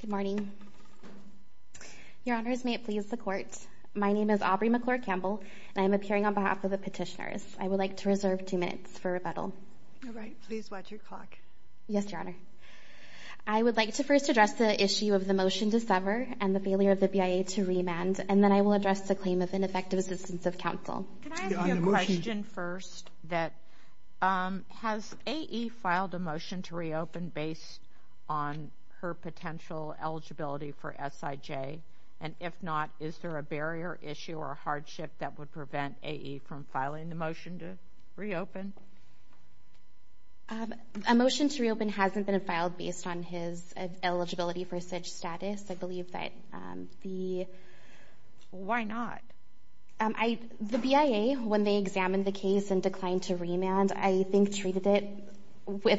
Good morning. Your Honors, may it please the Court, my name is Aubrey McClure-Campbell and I am appearing on behalf of the petitioners. I would like to reserve two minutes for rebuttal. All right, please watch your clock. Yes, Your Honor. I would like to first address the issue of the motion to sever and the failure of the BIA to remand, and then I will address the claim of ineffective assistance of counsel. Can I ask you a question first? Has AE filed a motion to reopen based on her potential eligibility for SIJ? And if not, is there a barrier issue or hardship that would prevent AE from filing the motion to reopen? A motion to reopen hasn't been filed based on his eligibility for such status. I believe that the... Why is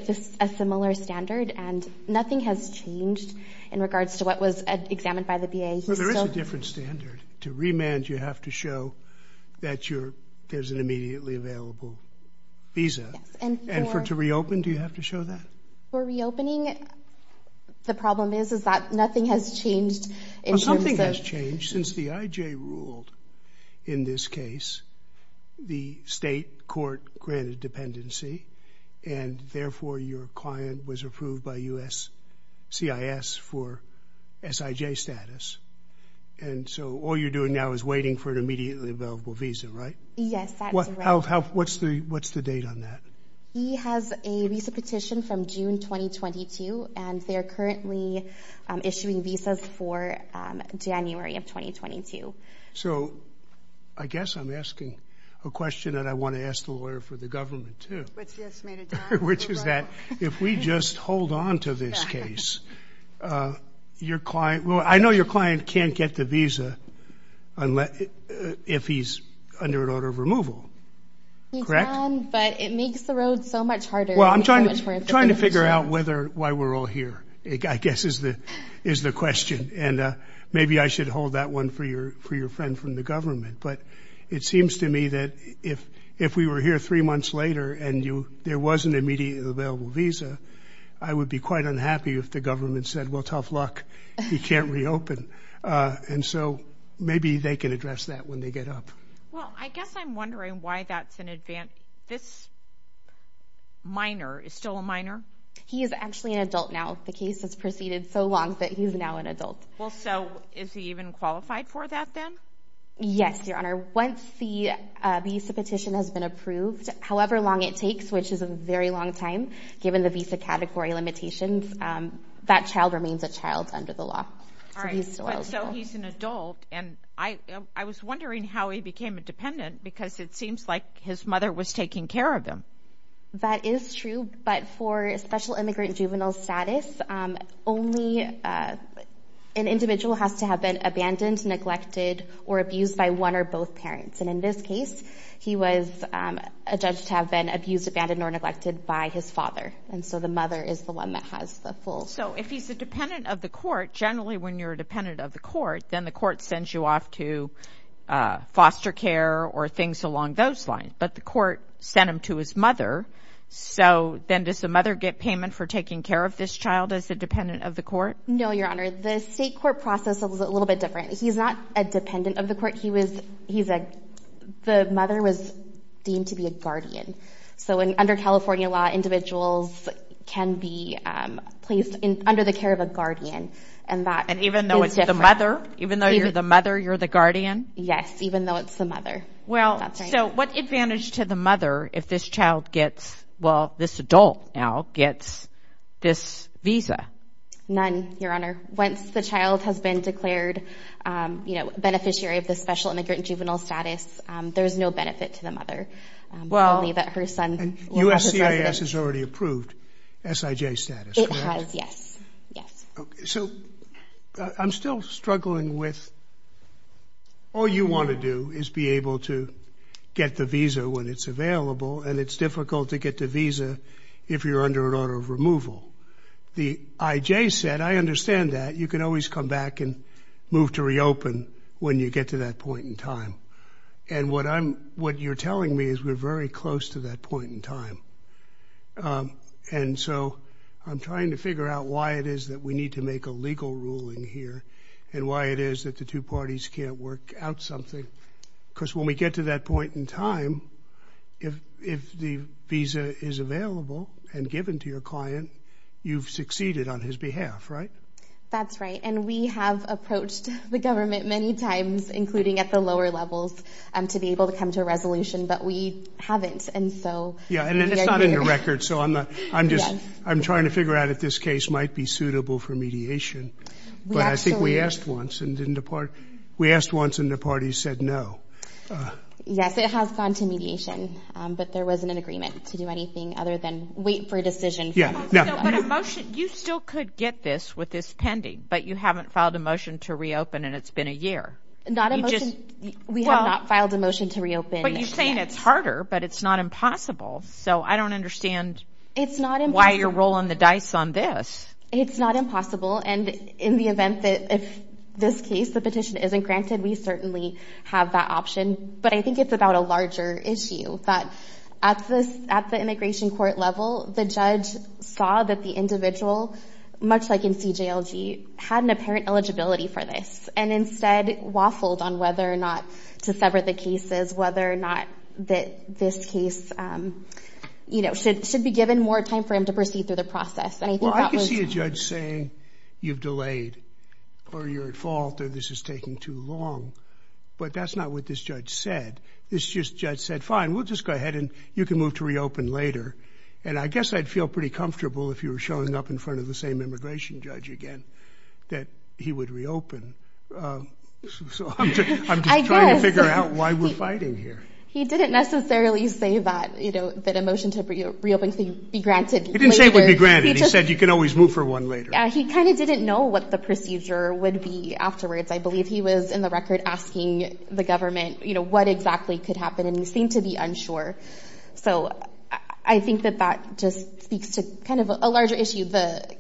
there a similar standard? And nothing has changed in regards to what was examined by the BIA. Well, there is a different standard. To remand, you have to show that there's an immediately available visa. And for to reopen, do you have to show that? For reopening, the problem is that nothing has changed in terms of... Well, something has changed since the SIJ ruled in this case. The state court granted dependency, and therefore your client was approved by USCIS for SIJ status. And so all you're doing now is waiting for an immediately available visa, right? Yes, that's correct. What's the date on that? He has a visa petition from June 2022, and they're currently issuing visas for January of 2022. So I guess I'm asking a question that I want to ask the lawyer for the government too, which is that if we just hold on to this case, your client... Well, I know your client can't get the visa if he's under an order of removal, correct? He can, but it makes the road so much harder. Well, I'm trying to figure out why we're all here, I guess is the question. And maybe I should hold that one for your friend from the government. But it seems to me that if we were here three months later and there wasn't an immediately available visa, I would be quite unhappy if the government said, well, tough luck, he can't reopen. And so maybe they can address that when they get up. Well, I guess I'm wondering why that's an advance... This minor is still a minor? He is actually an adult now. The case has proceeded so long that he's now an adult. Well, so is he even qualified for that then? Yes, Your Honor. Once the visa petition has been approved, however long it takes, which is a very long time, given the visa category limitations, that child remains a child under the law. All right, so he's an adult. And I was wondering how he became a dependent because it seems like his mother was taking care of him. That is true. But for special immigrant juvenile status, only an individual has to have been abandoned, neglected, or abused by one or both parents. And in this case, he was a judge to have been abused, abandoned, or neglected by his father. And so the mother is the one that has the full... So if he's a dependent of the court, generally when you're a dependent of the court, then the court sends you off to foster care or things along those lines. But the court sent him to his mother, so then does the mother get payment for taking care of this child as a dependent of the court? No, Your Honor. The state court process is a little bit different. He's not a dependent of the court. The mother was deemed to be a guardian. So under California law, individuals can be placed under the care of a guardian. And that is different. And even though it's the mother? Even though you're the mother, you're the guardian? Yes, even though it's the mother. That's right. Well, so what advantage to the mother if this child gets... Well, this adult now gets this visa? None, Your Honor. Once the child has been declared beneficiary of the special immigrant juvenile status, there's no benefit to the mother. Only that her son will have his residence. USCIS has already approved SIJ status, correct? Yes, yes. So I'm still struggling with... All you want to do is be able to get the visa when it's available, and it's difficult to get the visa if you're under an order of removal. The IJ said, I understand that. You can always come back and move to reopen when you get to that point in time. And what you're telling me is we're very close to that point in time. And so I'm trying to figure out why it is that we need to make a legal ruling here, and why it is that the two parties can't work out something. Because when we get to that point in time, if the visa is available and given to your client, you've succeeded on his behalf, right? That's right. And we have approached the government many times, including at the lower levels, to be able to come to a resolution, but we haven't. And so- And it's not in the record, so I'm trying to figure out if this case might be suitable for mediation. But I think we asked once and didn't depart. We asked once and the party said no. Yes, it has gone to mediation, but there wasn't an agreement to do anything other than wait for a decision from the government. But a motion, you still could get this with this pending, but you haven't filed a motion to reopen and it's been a year. We have not filed a motion to reopen. But you're saying it's harder, but it's not impossible. So I don't understand why you're rolling the dice on this. It's not impossible. And in the event that if this case, the petition isn't granted, we certainly have that option. But I think it's about a larger issue that at the immigration court level, the judge saw that the individual, much like in CJLG, had an apparent eligibility for this and instead waffled on whether or not to sever the cases, whether or not that this case should be given more time for him to proceed through the process. Well, I could see a judge saying you've delayed or you're at fault or this is taking too long, but that's not what this judge said. This judge said, fine, we'll just go ahead and you can move to reopen later. And I guess I'd feel pretty comfortable if you were showing up in front of the same immigration judge again, that he would reopen. So I'm just trying to figure out why we're fighting here. He didn't necessarily say that a motion to reopen could be granted. He didn't say it would be granted. He said you can always move for one later. He kind of didn't know what the procedure would be afterwards. I believe he was in the record asking the government what exactly could happen and he seemed to be unsure. So I think that that speaks to kind of a larger issue. The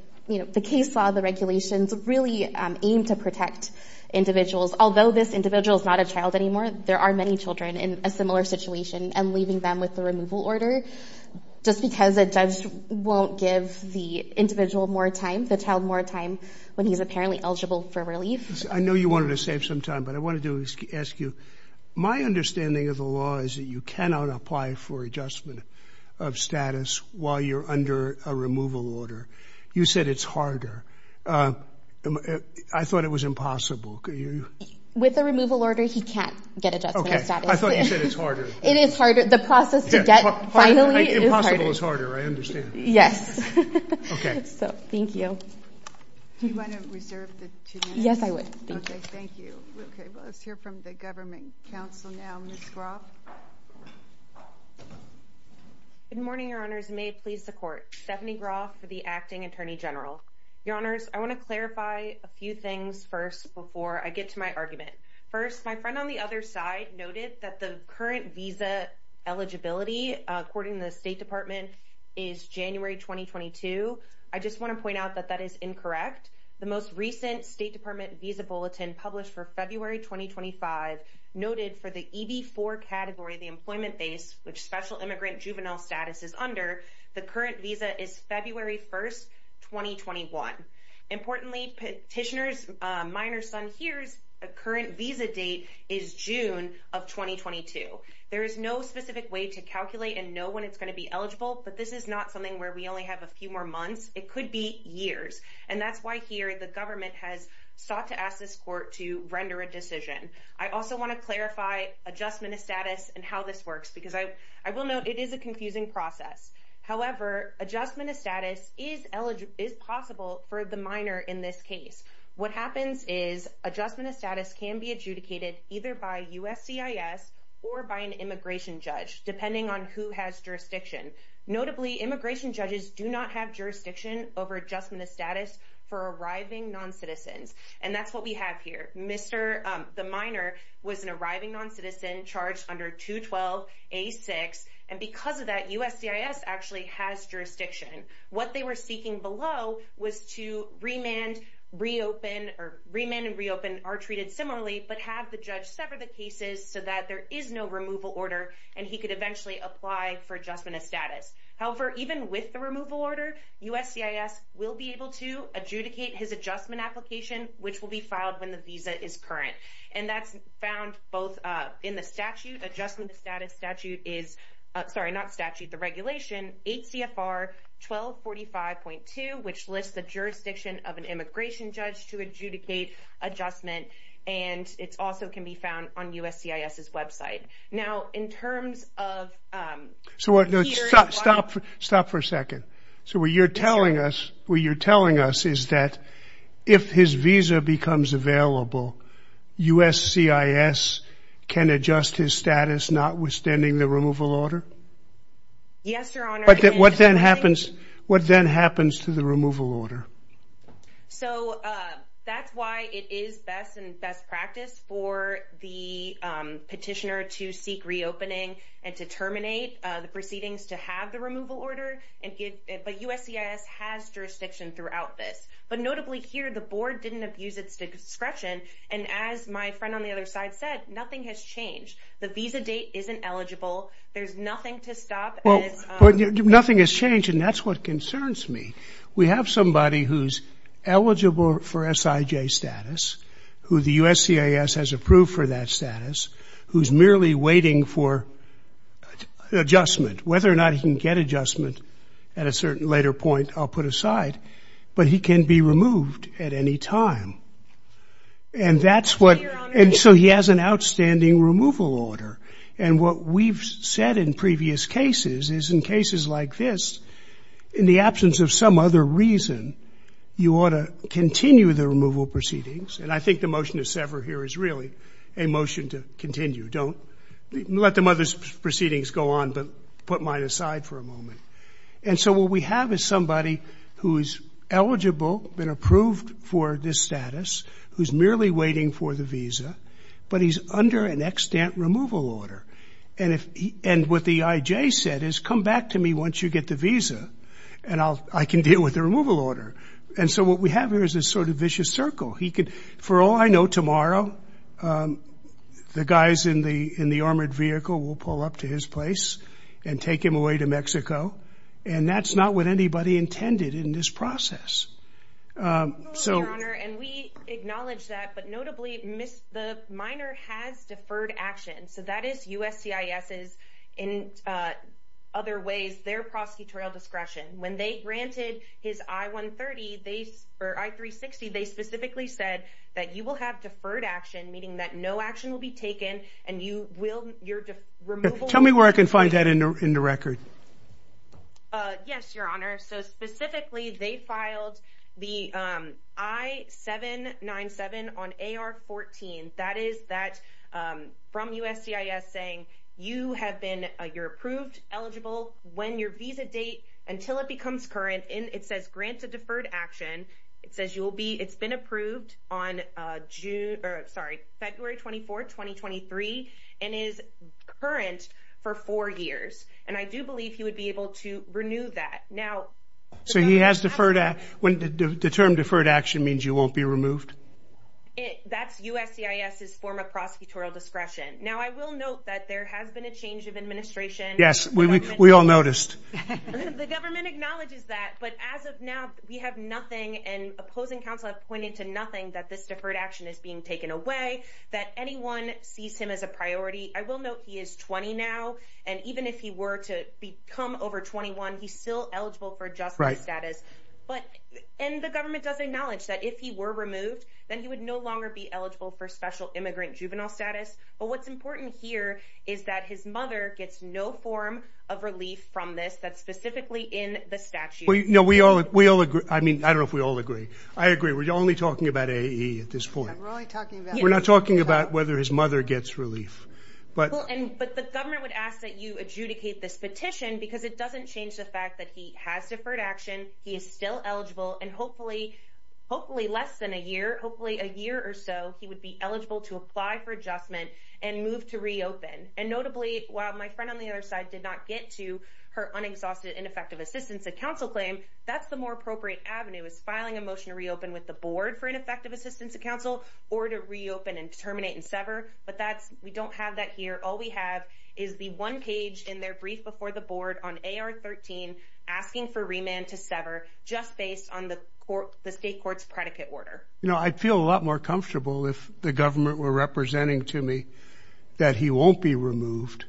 case law, the regulations really aim to protect individuals. Although this individual is not a child anymore, there are many children in a similar situation and leaving them with the removal order just because a judge won't give the individual more time, the child more time when he's apparently eligible for relief. I know you wanted to save some time, but I wanted to ask you, my understanding of the law is that cannot apply for adjustment of status while you're under a removal order. You said it's harder. I thought it was impossible. With a removal order, he can't get adjustment of status. I thought you said it's harder. It is harder. The process to get finally is harder. Impossible is harder. I understand. Yes. Okay. So thank you. Do you want to reserve the two minutes? Yes, I would. Okay. Thank you. Okay. Well, let's hear from the government counsel now. Ms. Groff. Good morning, your honors. May it please the court. Stephanie Groff for the acting attorney general. Your honors, I want to clarify a few things first before I get to my argument. First, my friend on the other side noted that the current visa eligibility, according to the State Department, is January 2022. I just want to point out that that is incorrect. The most recent State Department visa bulletin published for February 2025 noted for the EV4 category, the employment base, which special immigrant juvenile status is under, the current visa is February 1st, 2021. Importantly, petitioner's minor son here's a current visa date is June of 2022. There is no specific way to calculate and know when it's going to be eligible, but this is not something where we only have a few more months. It could be years. And that's why here the government has sought to ask this court to render a decision. I also want to clarify adjustment of status and how this works, because I will note it is a confusing process. However, adjustment of status is possible for the minor in this case. What happens is adjustment of status can be adjudicated either by USCIS or by an immigration judge, depending on who has jurisdiction. Notably, immigration judges do not have jurisdiction over adjustment of status for arriving non-citizens. And that's what we have here. The minor was an arriving non-citizen charged under 212A6. And because of that, USCIS actually has jurisdiction. What they were seeking below was to remand, reopen, or remand and reopen are treated similarly, but have the judge sever the so that there is no removal order and he could eventually apply for adjustment of status. However, even with the removal order, USCIS will be able to adjudicate his adjustment application, which will be filed when the visa is current. And that's found both in the statute, adjustment of status statute is, sorry, not statute, the regulation, 8 CFR 1245.2, which lists the of an immigration judge to adjudicate adjustment. And it's also can be found on USCIS's website. Now in terms of- So stop for a second. So what you're telling us is that if his visa becomes available, USCIS can adjust his status, not withstanding the removal order? Yes, Your Honor. But what then happens to the removal order? So that's why it is best and best practice for the petitioner to seek reopening and to terminate the proceedings to have the removal order, but USCIS has jurisdiction throughout this. But notably here, the board didn't abuse its discretion. And as my friend on the other side said, nothing has changed. The visa date isn't eligible. There's nothing to stop. Nothing has changed. And that's what concerns me. We have somebody who's eligible for SIJ status, who the USCIS has approved for that status, who's merely waiting for adjustment, whether or not he can get adjustment at a certain later point, I'll put aside, but he can be removed at any time. And that's what- And so he has an outstanding removal order. And what we've said in previous cases is in cases like this, in the absence of some other reason, you ought to continue the removal proceedings. And I think the motion to sever here is really a motion to continue. Don't let the mother's proceedings go on, but put mine aside for a moment. And so what we have is somebody who's eligible, been approved for this status, who's merely waiting for the visa, but he's under an extant removal order. And what the IJ said is, come back to me once you get the visa and I can deal with the removal order. And so what we have here is this sort of vicious circle. For all I know, tomorrow, the guys in the armored vehicle will pull up to his place and take him away to Mexico. And that's not what anybody intended in this process. So- And we acknowledge that, but notably, the minor has deferred action. So that is USCIS's in other ways, their prosecutorial discretion. When they granted his I-130, or I-360, they specifically said that you will have deferred action, meaning that no action will be taken and you will- Tell me where I can find that in the record. Yes, your honor. So specifically, they filed the I-797 on AR-14. That is that from USCIS saying you have been, you're approved, eligible, when your visa date, until it becomes current. And is current for four years. And I do believe he would be able to renew that. Now- So he has deferred, the term deferred action means you won't be removed? That's USCIS's former prosecutorial discretion. Now, I will note that there has been a change of administration. Yes, we all noticed. The government acknowledges that, but as of now, we have nothing and opposing counsel have pointed to nothing that this deferred action is being taken away, that anyone sees him as a priority. I will note he is 20 now. And even if he were to become over 21, he's still eligible for justice status. And the government does acknowledge that if he were removed, then he would no longer be eligible for special immigrant juvenile status. But what's important here is that his mother gets no form of relief from this. That's specifically in the statute. We all agree. I mean, I don't know if we all agree. I agree. We're only talking about AE at this point. We're not talking about whether his mother gets relief. But the government would ask that you adjudicate this petition because it doesn't change the fact that he has deferred action. He is still eligible. And hopefully, less than a year, hopefully a year or so, he would be eligible to apply for adjustment and move to reopen. And notably, while my friend on the other side did not get to her unexhausted ineffective assistance, a counsel claim, that's the more effective assistance to counsel or to reopen and terminate and sever. But that's we don't have that here. All we have is the one page in their brief before the board on AR 13, asking for remand to sever just based on the court, the state court's predicate order. You know, I'd feel a lot more comfortable if the government were representing to me that he won't be removed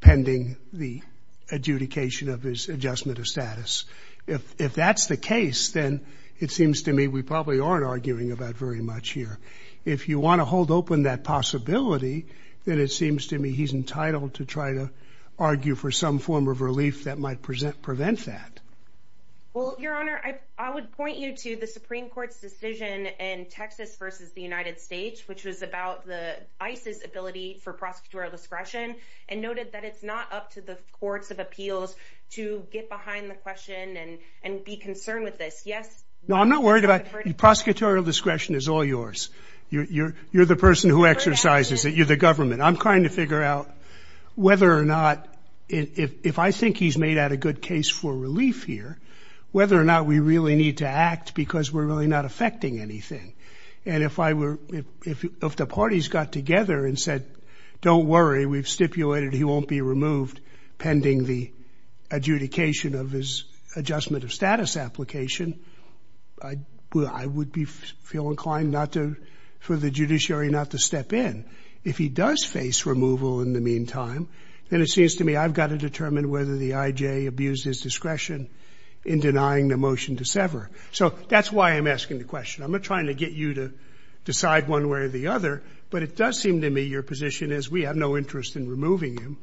pending the adjudication of his adjustment of status. If that's the case, then it seems to me we probably aren't arguing about very much here. If you want to hold open that possibility, then it seems to me he's entitled to try to argue for some form of relief that might present prevent that. Well, Your Honor, I would point you to the Supreme Court's decision in Texas versus the United States, which was about the ISIS ability for prosecutorial discretion and noted that it's not up to the courts of appeals to get behind the question and and be concerned with this. Yes, no, I'm not worried about prosecutorial discretion is all yours. You're the person who exercises it. You're the government. I'm trying to figure out whether or not if I think he's made out a good case for relief here, whether or not we really need to act because we're really not affecting anything. And if I were if the parties got together and said, don't worry, we've stipulated he won't be removed pending the adjudication of his adjustment of status application, I would be feel inclined not to for the judiciary not to step in. If he does face removal in the meantime, then it seems to me I've got to determine whether the IJ abused his discretion in denying the motion to sever. So that's why I'm asking the question. I'm trying to get you to decide one way or the other. But it does seem to me your position is we have no interest in removing him.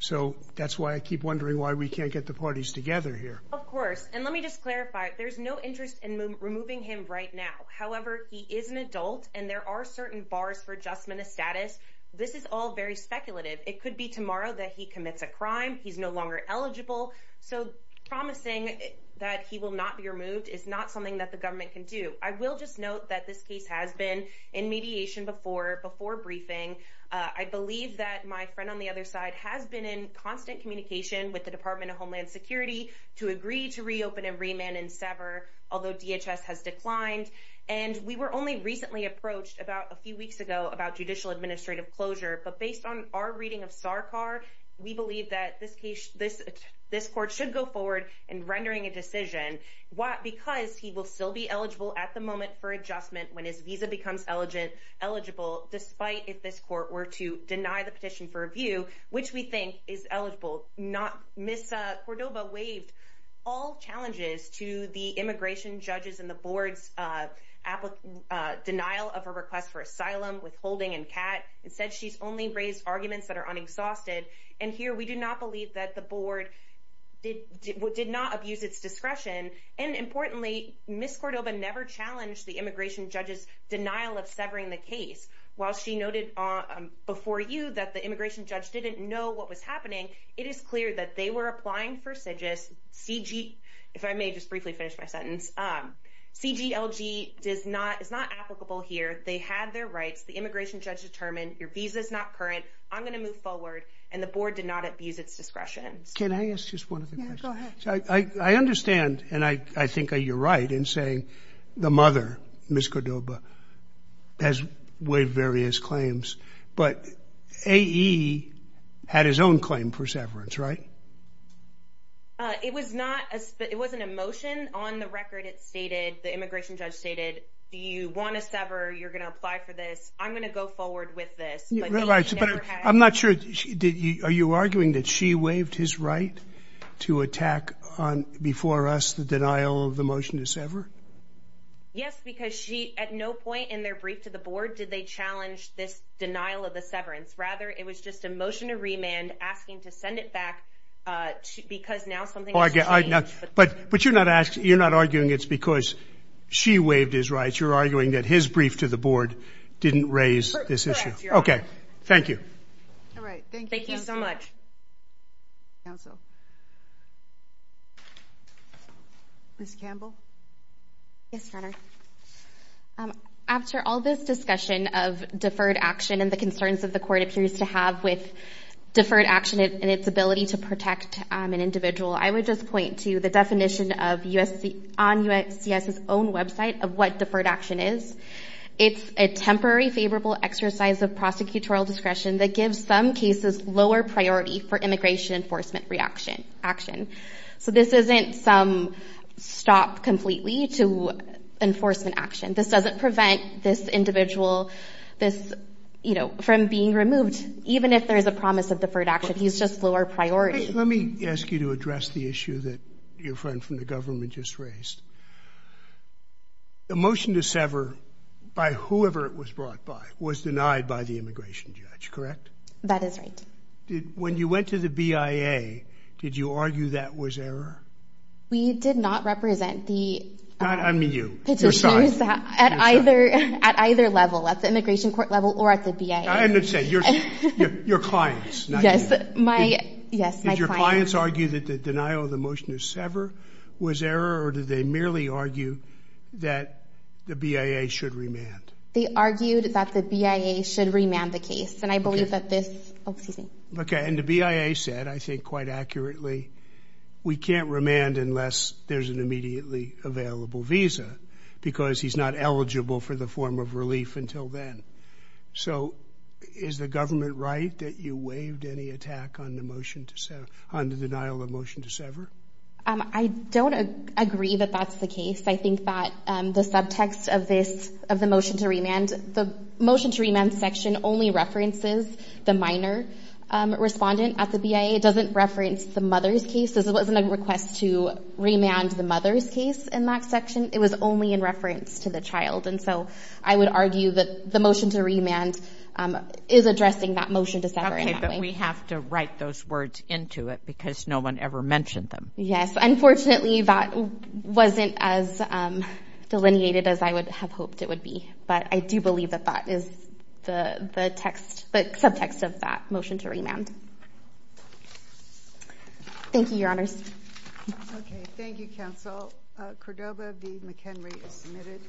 So that's why I keep wondering why we can't get the parties together here. Of course. And let me just clarify, there's no interest in removing him right now. However, he is an adult and there are certain bars for adjustment of status. This is all very speculative. It could be tomorrow that he commits a crime. He's no longer eligible. So promising that he will not be removed is not something that the government can do. I will just note that this case has been in mediation before before briefing. I believe that my friend on the other side has been in constant communication with the Department of Homeland Security to agree to reopen and remand and sever, although DHS has declined. And we were only recently approached about a few weeks ago about judicial administrative closure. But based on our reading of Sarkar, we believe that this case, this this court should go forward and rendering a decision because he will still be eligible at the moment for adjustment when his visa becomes eligible, despite if this court were to deny the for review, which we think is eligible, not miss Cordoba waived all challenges to the immigration judges and the board's denial of a request for asylum withholding and cat. It said she's only raised arguments that are unexhausted. And here we do not believe that the board did did not abuse its discretion. And importantly, Miss Cordoba never challenged the immigration judges denial of severing the case. While she noted before you that the immigration judge didn't know what was happening. It is clear that they were applying for CIGIS CG. If I may just briefly finish my sentence. CG LG does not is not applicable here. They had their rights. The immigration judge determined your visa is not current. I'm going to move forward. And the board did not abuse its discretion. Can I ask just one of the go ahead. I understand. And I think you're right in saying the mother, Miss Cordoba has waived various claims. But he had his own claim for severance, right? It was not as it was an emotion on the record. It stated the immigration judge stated, Do you want to sever? You're going to apply for this. I'm going to go forward with this. I'm not sure. Did you are you arguing that she waived his right to attack on before us the denial of the motion to sever? Yes, because she at no point in their brief to the board, did they challenge this denial of the severance? Rather, it was just a motion to remand asking to send it back because now something like that. But but you're not asking. You're not arguing. It's because she waived his rights. You're arguing that his brief to the board didn't raise this issue. Okay. Thank you. All right. Thank you. Thank you so much. Miss Campbell. Yes. After all this discussion of deferred action and the concerns of the court appears to have with deferred action and its ability to protect an individual, I would just to the definition of us on USGS his own website of what deferred action is. It's a temporary favorable exercise of prosecutorial discretion that gives some cases lower priority for immigration enforcement reaction action. So this isn't some stop completely to enforcement action. This doesn't prevent this individual, this, you know, from being removed, even if there's a your friend from the government just raised. The motion to sever by whoever it was brought by was denied by the immigration judge, correct? That is right. When you went to the BIA, did you argue that was error? We did not represent the at either at either level at the immigration court level or at the BIA. I understand your your clients. Yes. My yes. Your clients argue that the denial of the motion to sever was error or did they merely argue that the BIA should remand? They argued that the BIA should remand the case. And I believe that this excuse me. Okay. And the BIA said, I think quite accurately, we can't remand unless there's an immediately available visa because he's not eligible for the form of relief until then. So is the government right that you waived any attack on the motion to set on the denial of motion to sever? I don't agree that that's the case. I think that the subtext of this of the motion to remand the motion to remand section only references the minor respondent at the BIA. It doesn't reference the mother's case. This wasn't a request to remand the mother's case in that section. It was only in reference to the child. And so I would argue that the motion to remand is addressing that motion to sever. Okay. But we have to write those words into it because no one ever mentioned them. Yes. Unfortunately, that wasn't as delineated as I would have hoped it would be. But I do believe that that is the text, the subtext of that motion to remand. Thank you, Your Honors. Okay. Thank you, Counsel. Cordova v. McHenry is submitted.